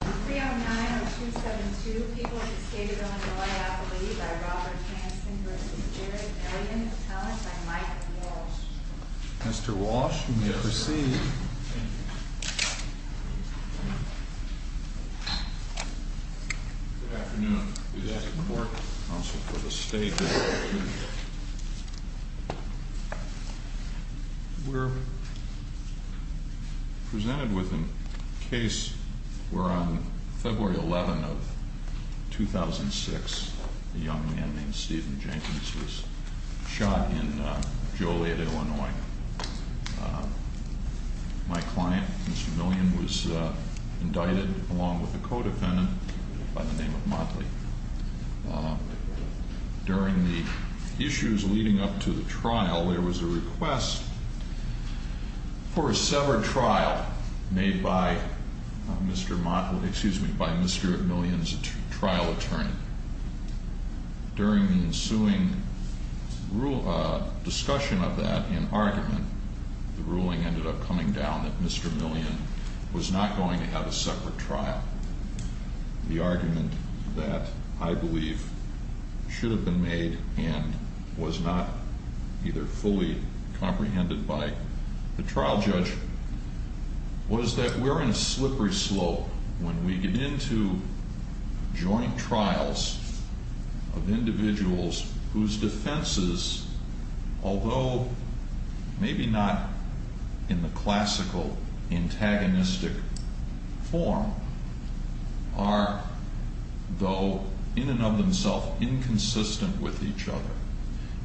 3-09-0272 People of the State of Illinois Appellee by Robert Hanson v. Jared Milian Talent by Mike Walsh Mr. Walsh, you may proceed. Good afternoon. Good afternoon. This is the Board Council for the State of Illinois. We're presented with a case where on February 11, 2006, a young man named Stephen Jenkins was shot in Joliet, Illinois. My client, Mr. Milian, was indicted along with a co-defendant by the name of Motley. During the issues leading up to the trial, there was a request for a separate trial made by Mr. Milian's trial attorney. During the ensuing discussion of that in argument, the ruling ended up coming down that Mr. Milian was not going to have a separate trial. The argument that I believe should have been made and was not either fully comprehended by the trial judge was that we're in a slippery slope when we get into joint trials of individuals whose defenses, although maybe not in the classical antagonistic form, are though in and of themselves inconsistent with each other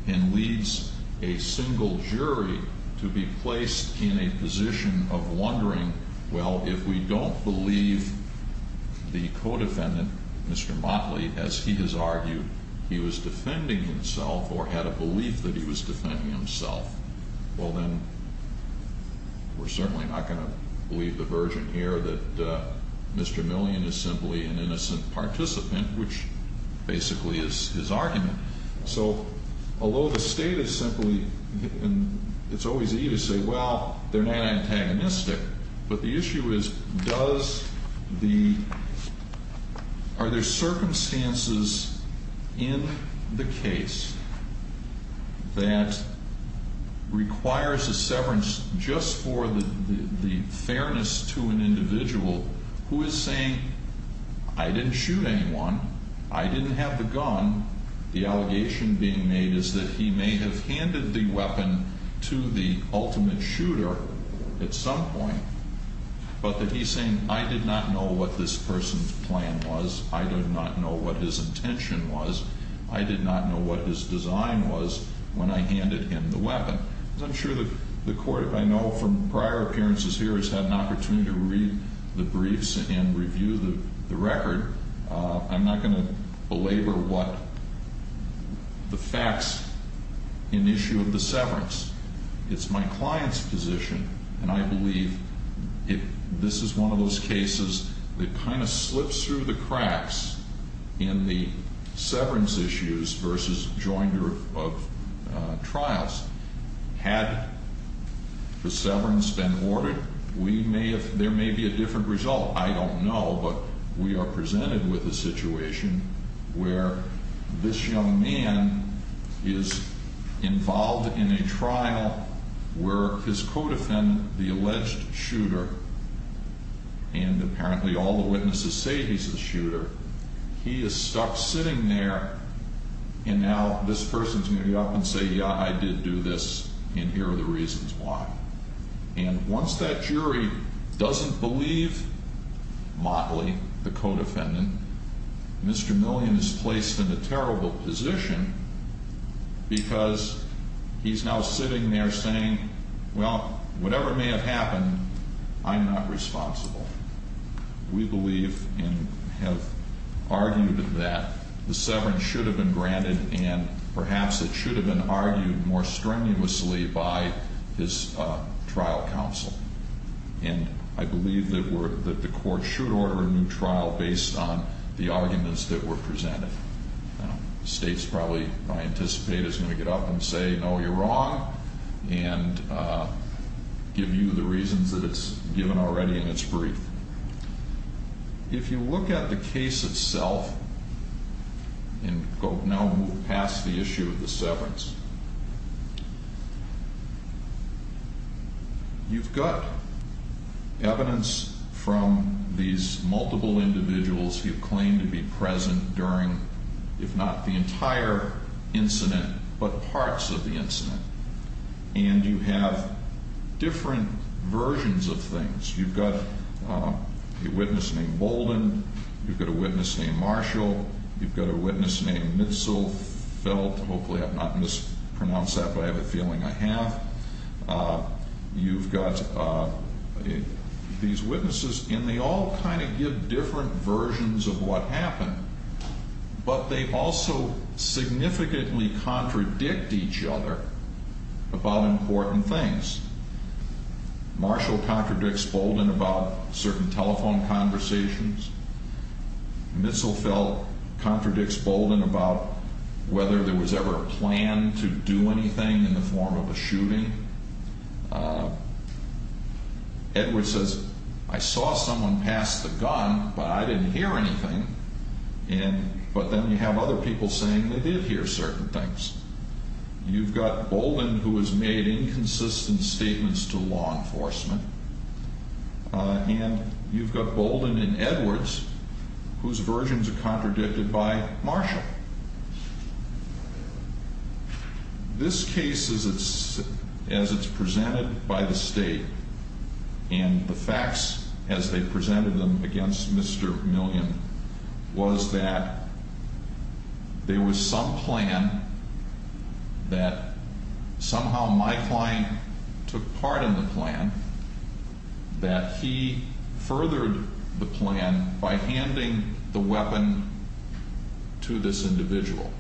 and leads a single jury to be placed in a position of wondering, well, if we don't believe the co-defendant, Mr. Motley, as he has argued, he was defending himself or had a belief that he was defending himself, well then we're certainly not going to believe the version here that Mr. Milian is simply an innocent participant, which basically is his argument. So, although the state is simply, and it's always easy to say, well, they're not antagonistic, but the issue is does the, are there circumstances in the case that requires a severance just for the fairness to an individual who is saying, I didn't shoot anyone, I didn't have the gun, the allegation being made is that he may have handed the weapon to the ultimate shooter at some point, but that he's saying I did not know what this person's plan was, I did not know what his intention was, I did not know what his design was when I handed him the weapon. As I'm sure the court, I know from prior appearances here, has had an opportunity to read the briefs and review the record, I'm not going to belabor what the facts in the issue of the severance. It's my client's position, and I believe this is one of those cases that kind of slips through the cracks in the severance issues versus joinder of trials. Had the severance been ordered, we may have, there may be a different result, I don't know, but we are presented with a situation where this young man is involved in a trial where his co-defendant, the alleged shooter, and apparently all the witnesses say he's the shooter. He is stuck sitting there, and now this person's going to get up and say, yeah, I did do this, and here are the reasons why. And once that jury doesn't believe Motley, the co-defendant, Mr. Millian is placed in a terrible position because he's now sitting there saying, well, whatever may have happened, I'm not responsible. We believe and have argued that the severance should have been granted, and perhaps it should have been argued more strenuously by his trial counsel. And I believe that the court should order a new trial based on the arguments that were presented. The state's probably, I anticipate, is going to get up and say, no, you're wrong, and give you the reasons that it's given already in its brief. If you look at the case itself, and go now past the issue of the severance, you've got evidence from these multiple individuals who claim to be present during, if not the entire incident, but parts of the incident. And you have different versions of things. You've got a witness named Bolden. You've got a witness named Marshall. You've got a witness named Mitzelfeld. Hopefully I've not mispronounced that, but I have a feeling I have. You've got these witnesses, and they all kind of give different versions of what happened. But they also significantly contradict each other about important things. Marshall contradicts Bolden about certain telephone conversations. Mitzelfeld contradicts Bolden about whether there was ever a plan to do anything in the form of a shooting. Edward says, I saw someone pass the gun, but I didn't hear anything. But then you have other people saying they did hear certain things. You've got Bolden, who has made inconsistent statements to law enforcement. And you've got Bolden and Edwards, whose versions are contradicted by Marshall. This case, as it's presented by the state, and the facts as they presented them against Mr. Million, was that there was some plan that somehow my client took part in the plan, that he furthered the plan by handing the weapon to this individual.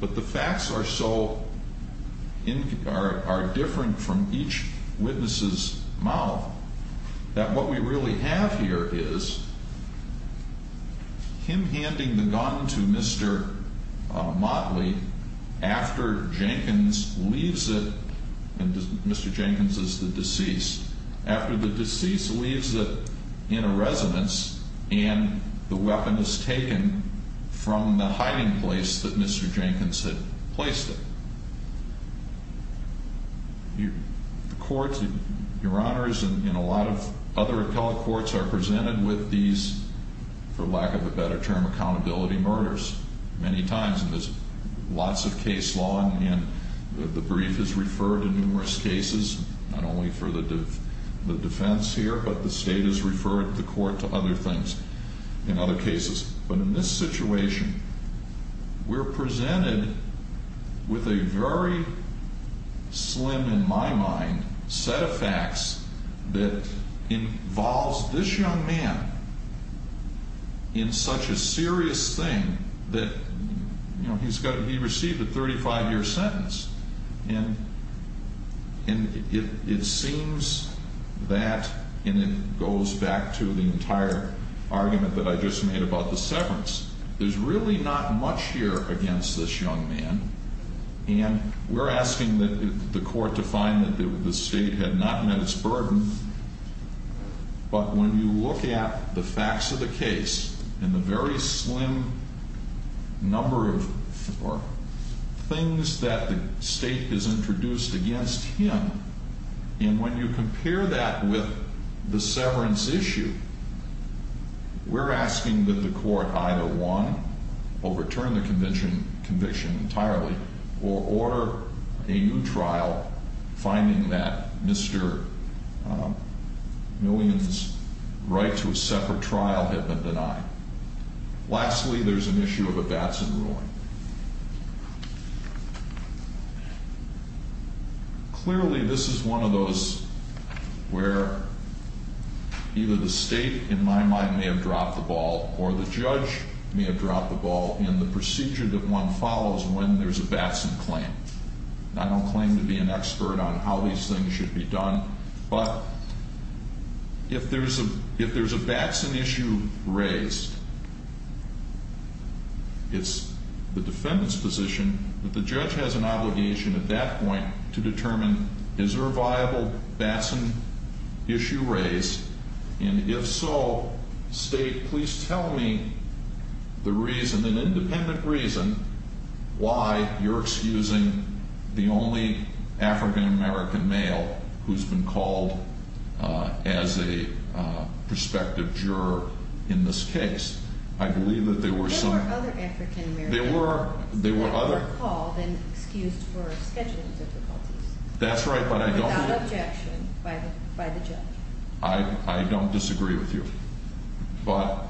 But the facts are so different from each witness's mouth, that what we really have here is him handing the gun to Mr. Motley after Jenkins leaves it, and Mr. Jenkins is the deceased, after the deceased leaves it in a residence, and the weapon is taken from the hiding place that Mr. Jenkins had placed it. The courts, your honors, and a lot of other appellate courts are presented with these, for lack of a better term, accountability murders many times. And there's lots of case law, and the brief is referred in numerous cases, not only for the defense here, but the state has referred the court to other things in other cases. But in this situation, we're presented with a very slim, in my mind, set of facts that involves this young man in such a serious thing that he received a 35-year sentence. And it seems that, and it goes back to the entire argument that I just made about the severance, there's really not much here against this young man, and we're asking the court to find that the state had not met its burden, but when you look at the facts of the case and the very slim number of things that the state has introduced against him, and when you compare that with the severance issue, we're asking that the court either one, overturn the conviction entirely, or order a new trial, finding that Mr. Millian's right to a separate trial had been denied. Lastly, there's an issue of a Batson ruling. Clearly, this is one of those where either the state, in my mind, may have dropped the ball, or the judge may have dropped the ball in the procedure that one follows when there's a Batson claim. I don't claim to be an expert on how these things should be done, but if there's a Batson issue raised, it's the defendant's position that the judge has an obligation at that point to determine is there a viable Batson issue raised, and if so, state, please tell me the reason, why you're excusing the only African-American male who's been called as a prospective juror in this case. I believe that there were some... There were other African-American males that were called and excused for scheduling difficulties. That's right, but I don't... Without objection by the judge. I don't disagree with you, but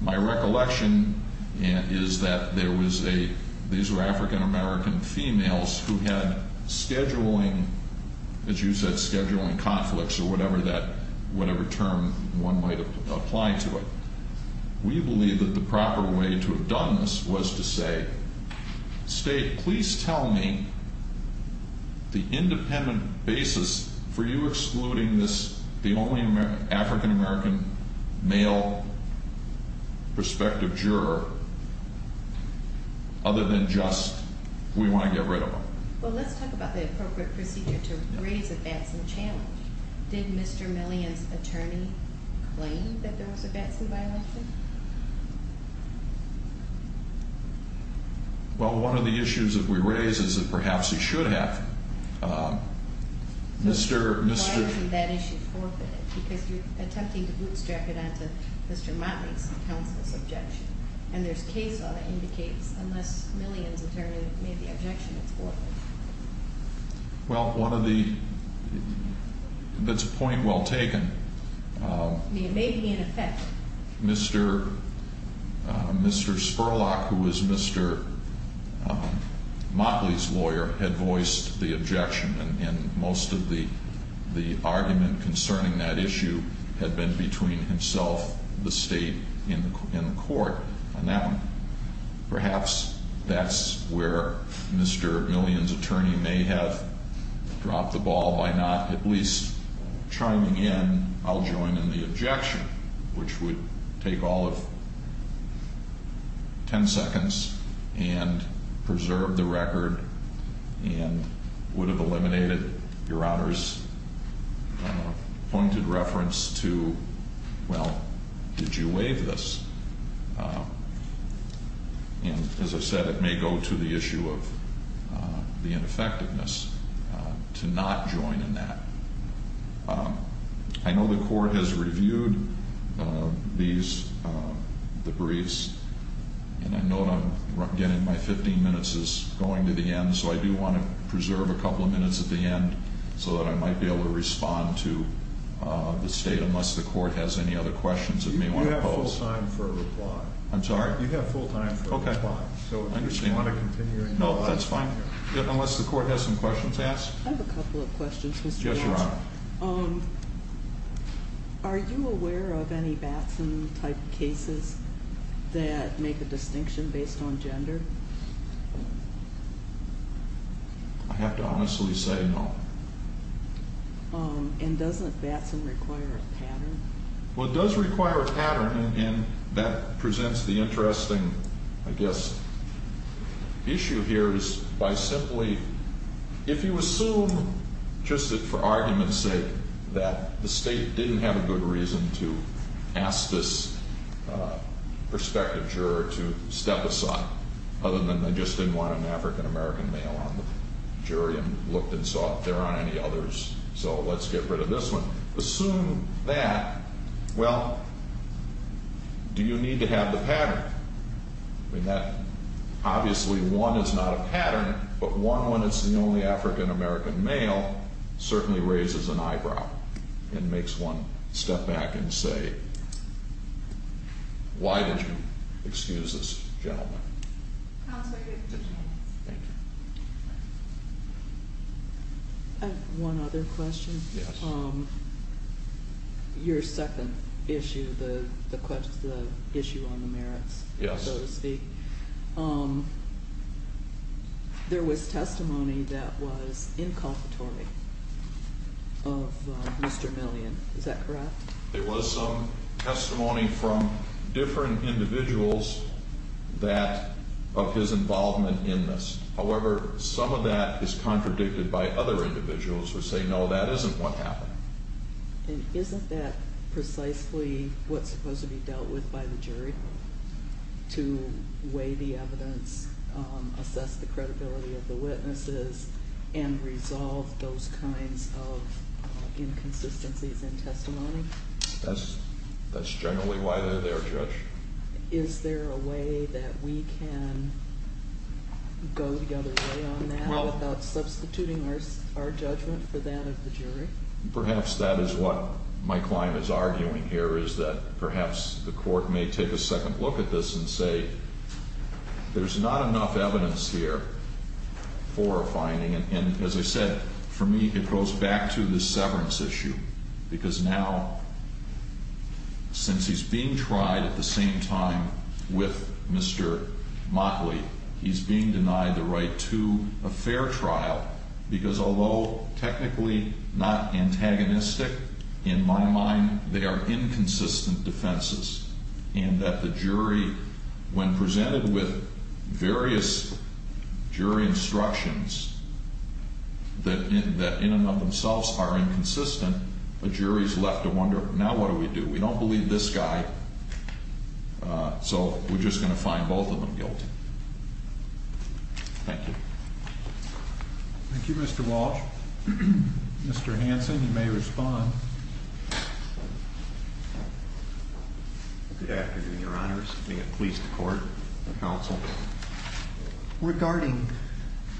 my recollection is that there was a... These were African-American females who had scheduling... As you said, scheduling conflicts or whatever term one might apply to it. We believe that the proper way to have done this was to say, state, please tell me the independent basis for you excluding this, the only African-American male prospective juror, other than just we want to get rid of him. Well, let's talk about the appropriate procedure to raise a Batson challenge. Did Mr. Millian's attorney claim that there was a Batson violation? Well, one of the issues that we raise is that perhaps he should have. Why isn't that issue forfeited? Because you're attempting to bootstrap it onto Mr. Motley's and counsel's objection, and there's case law that indicates unless Millian's attorney made the objection, it's forfeited. Well, one of the... That's a point well taken. It may be in effect. Mr. Spurlock, who was Mr. Motley's lawyer, had voiced the objection, and most of the argument concerning that issue had been between himself, the state, and the court. Now, perhaps that's where Mr. Millian's attorney may have dropped the ball by not at least chiming in, I'll join in the objection, which would take all of ten seconds and preserve the record and would have eliminated Your Honor's pointed reference to, well, did you waive this? And as I said, it may go to the issue of the ineffectiveness to not join in that. I know the court has reviewed these debriefs, and I know that I'm getting my 15 minutes is going to the end, so I do want to preserve a couple of minutes at the end so that I might be able to respond to the state unless the court has any other questions it may want to pose. You have full time for a reply. I'm sorry? You have full time for a reply. Okay. So if you want to continue... No, that's fine, unless the court has some questions to ask. I have a couple of questions, Mr. Watson. Yes, Your Honor. Are you aware of any Batson-type cases that make a distinction based on gender? I have to honestly say no. And doesn't Batson require a pattern? Well, it does require a pattern, and that presents the interesting, I guess, issue here is by simply... just for argument's sake that the state didn't have a good reason to ask this prospective juror to step aside, other than they just didn't want an African-American male on the jury and looked and saw if there are any others, so let's get rid of this one. Assume that. Well, do you need to have the pattern? I mean, obviously one is not a pattern, but one when it's the only African-American male certainly raises an eyebrow and makes one step back and say, why did you excuse this gentleman? Counsel, you have 15 minutes. Thank you. I have one other question. Yes. Your second issue, the issue on the merits, so to speak. Yes. There was testimony that was inculpatory of Mr. Millian. Is that correct? There was some testimony from different individuals of his involvement in this. However, some of that is contradicted by other individuals who say, no, that isn't what happened. And isn't that precisely what's supposed to be dealt with by the jury to weigh the evidence, assess the credibility of the witnesses, and resolve those kinds of inconsistencies in testimony? That's generally why they're there, Judge. Is there a way that we can go the other way on that without substituting our judgment for that of the jury? Perhaps that is what my client is arguing here is that perhaps the court may take a second look at this and say, there's not enough evidence here for a finding. And as I said, for me, it goes back to the severance issue. Because now, since he's being tried at the same time with Mr. Motley, he's being denied the right to a fair trial. Because although technically not antagonistic, in my mind, they are inconsistent defenses. And that the jury, when presented with various jury instructions that in and of themselves are inconsistent, the jury is left to wonder, now what do we do? We don't believe this guy. So we're just going to find both of them guilty. Thank you. Thank you, Mr. Walsh. Mr. Hanson, you may respond. Good afternoon, Your Honors. May it please the court and counsel, regarding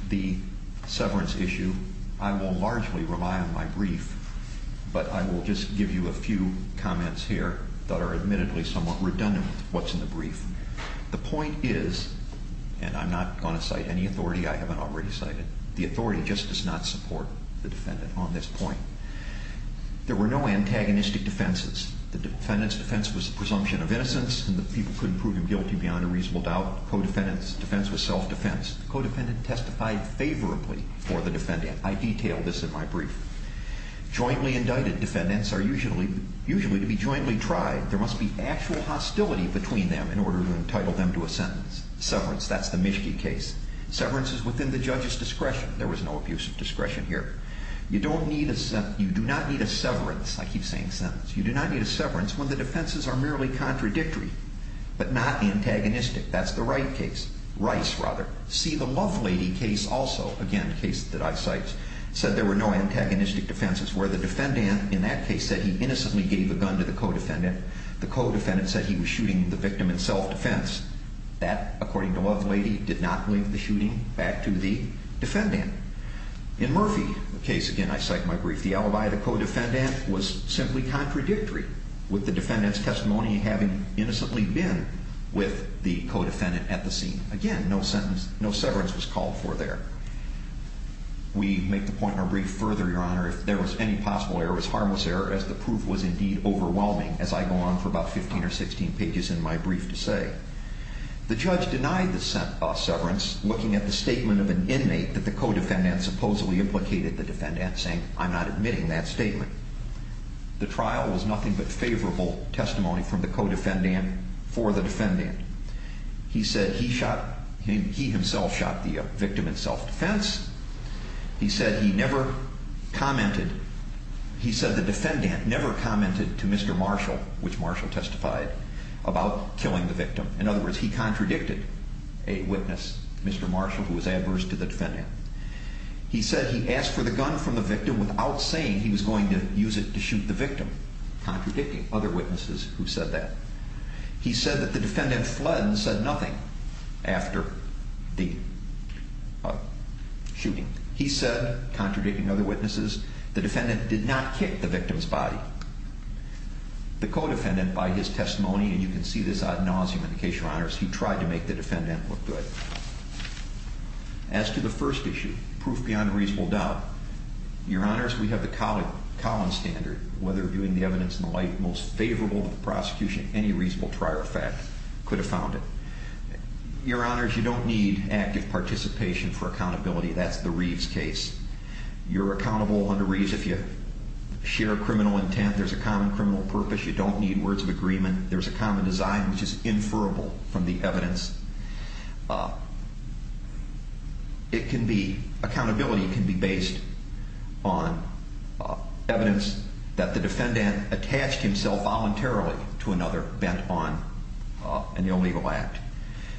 the severance issue, I will largely rely on my brief, but I will just give you a few comments here that are admittedly somewhat redundant, what's in the brief. The point is, and I'm not going to cite any authority I haven't already cited, the authority just does not support the defendant on this point. There were no antagonistic defenses. The defendant's defense was the presumption of innocence, and the people couldn't prove him guilty beyond a reasonable doubt. The co-defendant's defense was self-defense. The co-defendant testified favorably for the defendant. I detail this in my brief. Jointly indicted defendants are usually to be jointly tried. There must be actual hostility between them in order to entitle them to a sentence. Severance, that's the Mischke case. Severance is within the judge's discretion. There was no abuse of discretion here. You do not need a severance. I keep saying sentence. You do not need a severance when the defenses are merely contradictory, but not antagonistic. That's the Wright case. Rice, rather. See, the Lovelady case also, again, a case that I cite, said there were no antagonistic defenses, where the defendant in that case said he innocently gave a gun to the co-defendant. The co-defendant said he was shooting the victim in self-defense. That, according to Lovelady, did not link the shooting back to the defendant. In Murphy, a case, again, I cite in my brief, the alibi of the co-defendant was simply contradictory, with the defendant's testimony having innocently been with the co-defendant at the scene. Again, no severance was called for there. We make the point in our brief further, Your Honor, if there was any possible error, as harmless error, as the proof was indeed overwhelming, as I go on for about 15 or 16 pages in my brief to say. The judge denied the severance, looking at the statement of an inmate that the co-defendant supposedly implicated the defendant, saying, I'm not admitting that statement. The trial was nothing but favorable testimony from the co-defendant for the defendant. He said he shot, he himself shot the victim in self-defense. He said he never commented, he said the defendant never commented to Mr. Marshall, which Marshall testified, about killing the victim. In other words, he contradicted a witness, Mr. Marshall, who was adverse to the defendant. He said he asked for the gun from the victim without saying he was going to use it to shoot the victim, contradicting other witnesses who said that. He said that the defendant fled and said nothing after the shooting. He said, contradicting other witnesses, the defendant did not kick the victim's body. The co-defendant, by his testimony, and you can see this ad nauseum in the case, Your Honors, he tried to make the defendant look good. As to the first issue, proof beyond reasonable doubt, Your Honors, we have the Collins standard, whether doing the evidence in the light most favorable to the prosecution, any reasonable trier of fact, could have found it. Your Honors, you don't need active participation for accountability. That's the Reeves case. You're accountable under Reeves if you share a criminal intent, there's a common criminal purpose, you don't need words of agreement, there's a common design, which is inferable from the evidence. It can be, accountability can be based on evidence that the defendant attached himself voluntarily to another bent on an illegal act.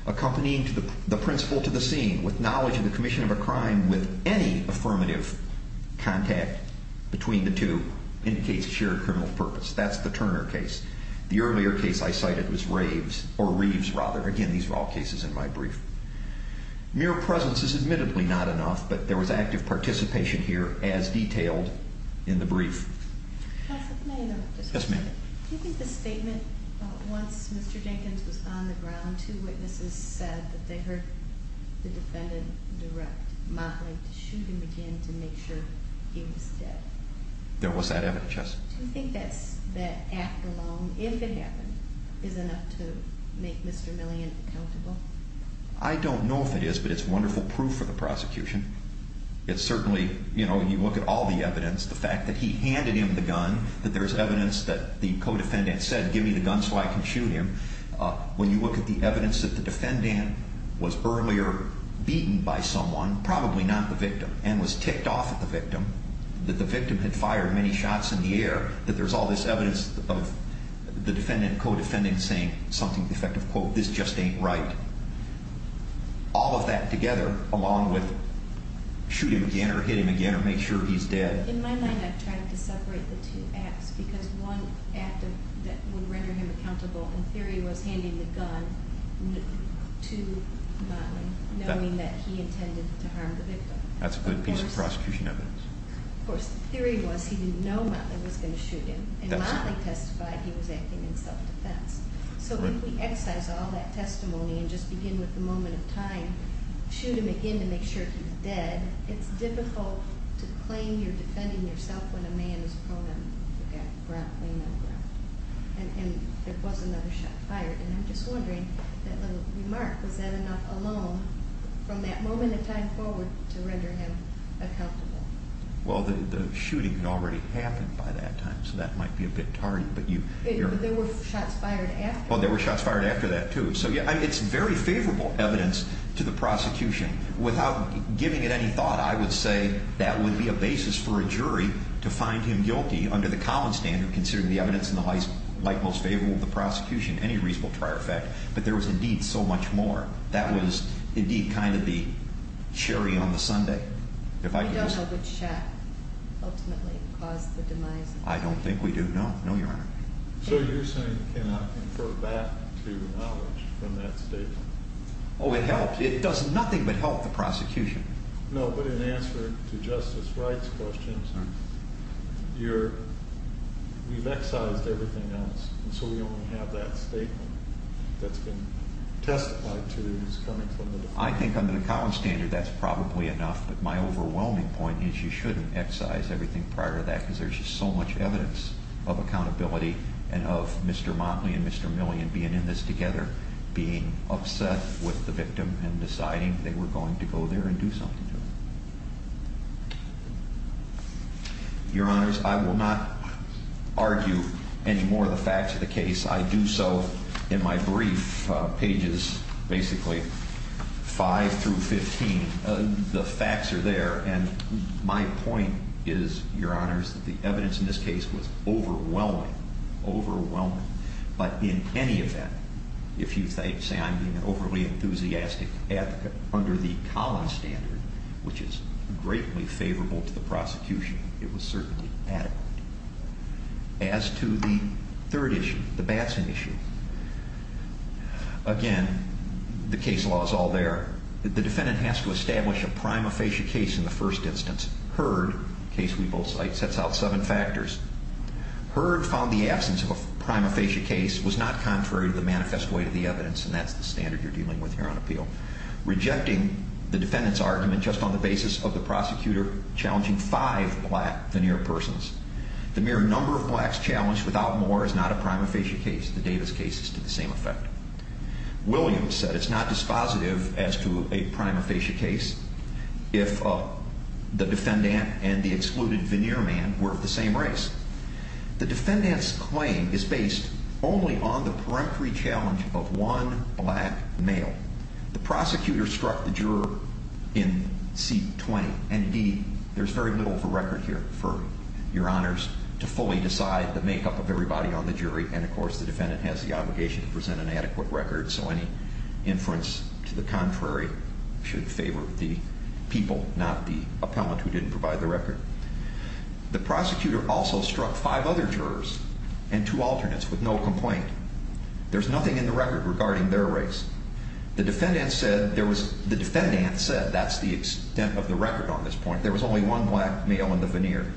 Accompanying the principle to the scene with knowledge of the commission of a crime with any affirmative contact between the two indicates shared criminal purpose. That's the Turner case. The earlier case I cited was Reeves. Again, these are all cases in my brief. Mere presence is admittedly not enough, but there was active participation here as detailed in the brief. Yes, ma'am. Do you think the statement, once Mr. Jenkins was on the ground, two witnesses said that they heard the defendant direct modeling to shoot him again to make sure he was dead? There was that evidence, yes. Do you think that act alone, if it happened, is enough to make Mr. Millian accountable? I don't know if it is, but it's wonderful proof for the prosecution. It certainly, you know, you look at all the evidence, the fact that he handed him the gun, that there's evidence that the co-defendant said, give me the gun so I can shoot him. When you look at the evidence that the defendant was earlier beaten by someone, probably not the victim, and was ticked off at the victim, that the victim had fired many shots in the air, that there's all this evidence of the defendant, co-defendant, saying something to the effect of, quote, this just ain't right. All of that together, along with shoot him again or hit him again or make sure he's dead. In my mind, I tried to separate the two acts because one act that would render him accountable, in theory, was handing the gun to modeling, knowing that he intended to harm the victim. That's a good piece of prosecution evidence. Of course, the theory was he didn't know Motley was going to shoot him. And Motley testified he was acting in self-defense. So if we excise all that testimony and just begin with the moment of time, shoot him again to make sure he's dead, it's difficult to claim you're defending yourself when a man is prone to get ground, laying on the ground. And there was another shot fired, and I'm just wondering, that little remark, was that enough alone from that moment in time forward to render him accountable? Well, the shooting had already happened by that time, so that might be a bit tardy. But there were shots fired after? Well, there were shots fired after that, too. So it's very favorable evidence to the prosecution. Without giving it any thought, I would say that would be a basis for a jury to find him guilty under the common standard considering the evidence in the light most favorable to the prosecution, any reasonable prior effect. But there was indeed so much more. That was indeed kind of the cherry on the sundae. You don't know which shot ultimately caused the demise? I don't think we do, no, no, Your Honor. So you're saying you cannot infer back to knowledge from that statement? Oh, it helps. It does nothing but help the prosecution. No, but in answer to Justice Wright's questions, we've excised everything else, and so we only have that statement that's been testified to as coming from the defense. I think under the common standard that's probably enough, but my overwhelming point is you shouldn't excise everything prior to that because there's just so much evidence of accountability and of Mr. Motley and Mr. Millian being in this together, being upset with the victim and deciding they were going to go there and do something to him. Your Honors, I will not argue any more of the facts of the case. I do so in my brief, pages basically 5 through 15. The facts are there, and my point is, Your Honors, that the evidence in this case was overwhelming, overwhelming. But in any event, if you say I'm being an overly enthusiastic advocate under the common standard, which is greatly favorable to the prosecution, it was certainly adequate. As to the third issue, the Batson issue, again, the case law is all there. The defendant has to establish a prima facie case in the first instance. Heard, a case we both cite, sets out seven factors. Heard found the absence of a prima facie case was not contrary to the manifest way to the evidence, and that's the standard you're dealing with here on appeal. Rejecting the defendant's argument just on the basis of the prosecutor challenging five black veneer persons. The mere number of blacks challenged without more is not a prima facie case. The Davis case is to the same effect. Williams said it's not dispositive as to a prima facie case if the defendant and the excluded veneer man were of the same race. The defendant's claim is based only on the peremptory challenge of one black male. The prosecutor struck the juror in seat 20. Indeed, there's very little of a record here for your honors to fully decide the makeup of everybody on the jury, and, of course, the defendant has the obligation to present an adequate record, so any inference to the contrary should favor the people, not the appellant who didn't provide the record. The prosecutor also struck five other jurors and two alternates with no complaint. There's nothing in the record regarding their race. The defendant said that's the extent of the record on this point. There was only one black male in the veneer.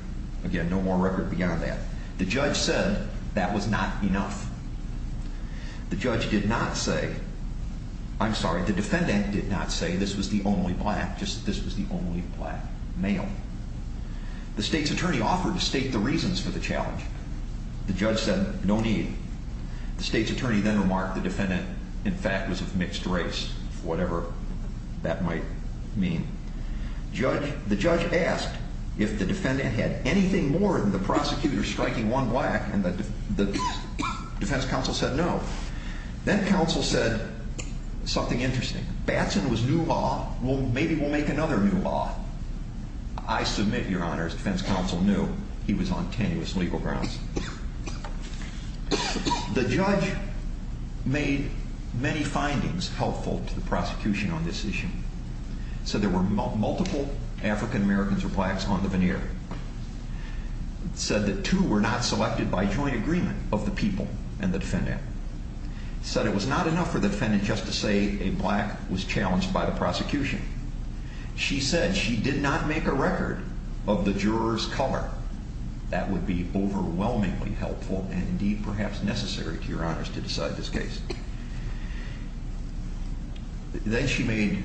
Again, no more record beyond that. The judge said that was not enough. The judge did not say, I'm sorry, the defendant did not say this was the only black, just this was the only black male. The state's attorney offered to state the reasons for the challenge. The judge said no need. The state's attorney then remarked the defendant, in fact, was of mixed race, whatever that might mean. The judge asked if the defendant had anything more than the prosecutor striking one black, and the defense counsel said no. Then counsel said something interesting. Batson was new law. Well, maybe we'll make another new law. I submit, Your Honor, as defense counsel knew, he was on tenuous legal grounds. The judge made many findings helpful to the prosecution on this issue. He said there were multiple African Americans or blacks on the veneer. He said that two were not selected by joint agreement of the people and the defendant. He said it was not enough for the defendant just to say a black was challenged by the prosecution. She said she did not make a record of the juror's color. That would be overwhelmingly helpful and, indeed, perhaps necessary to Your Honors to decide this case. Then she made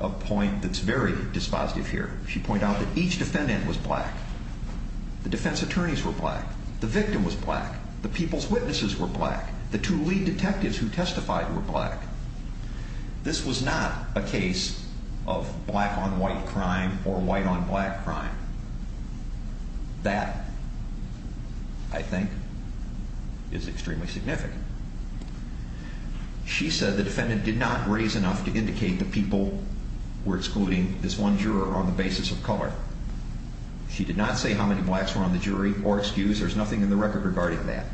a point that's very dispositive here. She pointed out that each defendant was black. The defense attorneys were black. The victim was black. The people's witnesses were black. The two lead detectives who testified were black. This was not a case of black-on-white crime or white-on-black crime. That, I think, is extremely significant. She said the defendant did not raise enough to indicate the people were excluding this one juror on the basis of color. She did not say how many blacks were on the jury or excuse. There's nothing in the record regarding that.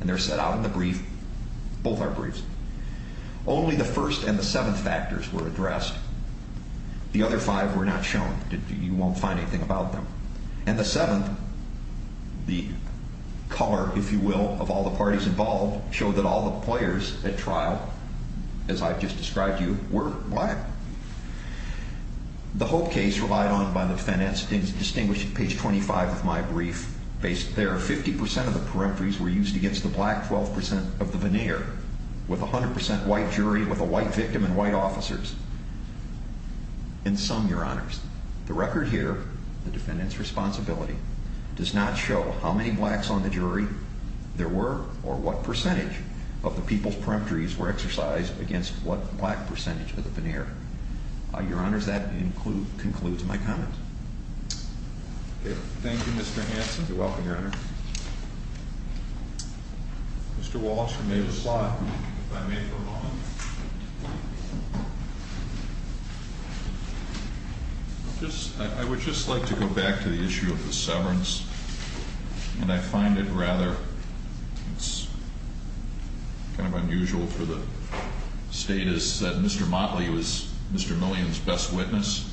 And they're set out in the brief. Both are briefs. Only the first and the seventh factors were addressed. The other five were not shown. You won't find anything about them. And the seventh, the color, if you will, of all the parties involved, showed that all the players at trial, as I've just described to you, were black. The Hope case, relied on by the defense, is distinguished at page 25 of my brief. There are 50% of the peremptories were used against the black, 12% of the veneer, with a 100% white jury with a white victim and white officers. In sum, Your Honors, the record here, the defendant's responsibility, does not show how many blacks on the jury there were or what percentage of the people's peremptories were exercised against what black percentage of the veneer. Your Honors, that concludes my comments. Thank you, Mr. Hanson. You're welcome, Your Honor. Mr. Walsh, you may have a slot, if I may for a moment. I would just like to go back to the issue of the severance. And I find it rather, it's kind of unusual for the status that Mr. Motley was Mr. Millian's best witness.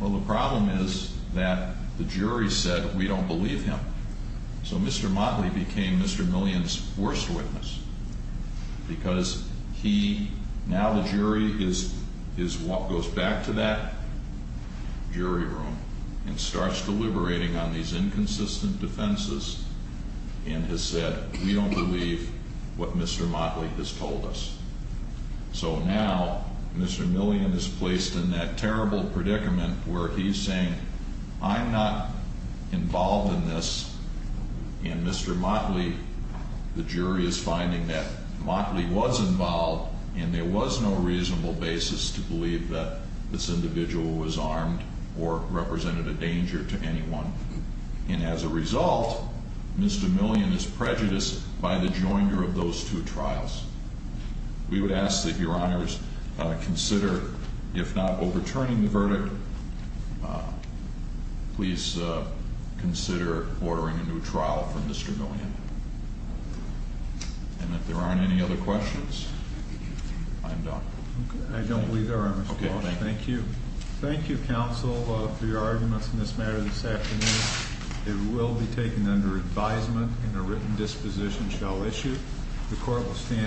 Well, the problem is that the jury said, we don't believe him. So Mr. Motley became Mr. Millian's worst witness. Because he, now the jury goes back to that jury room and starts deliberating on these inconsistent defenses and has said, we don't believe what Mr. Motley has told us. So now, Mr. Millian is placed in that terrible predicament where he's saying, I'm not involved in this. And Mr. Motley, the jury is finding that Motley was involved and there was no reasonable basis to believe that this individual was armed or represented a danger to anyone. And as a result, Mr. Millian is prejudiced by the joinder of those two trials. We would ask that your honors consider, if not overturning the verdict, please consider ordering a new trial for Mr. Millian. And if there aren't any other questions, I'm done. I don't believe there are, Mr. Walsh. Okay, thank you. Thank you, counsel, for your arguments in this matter this afternoon. It will be taken under advisement and a written disposition shall issue. The court will stand-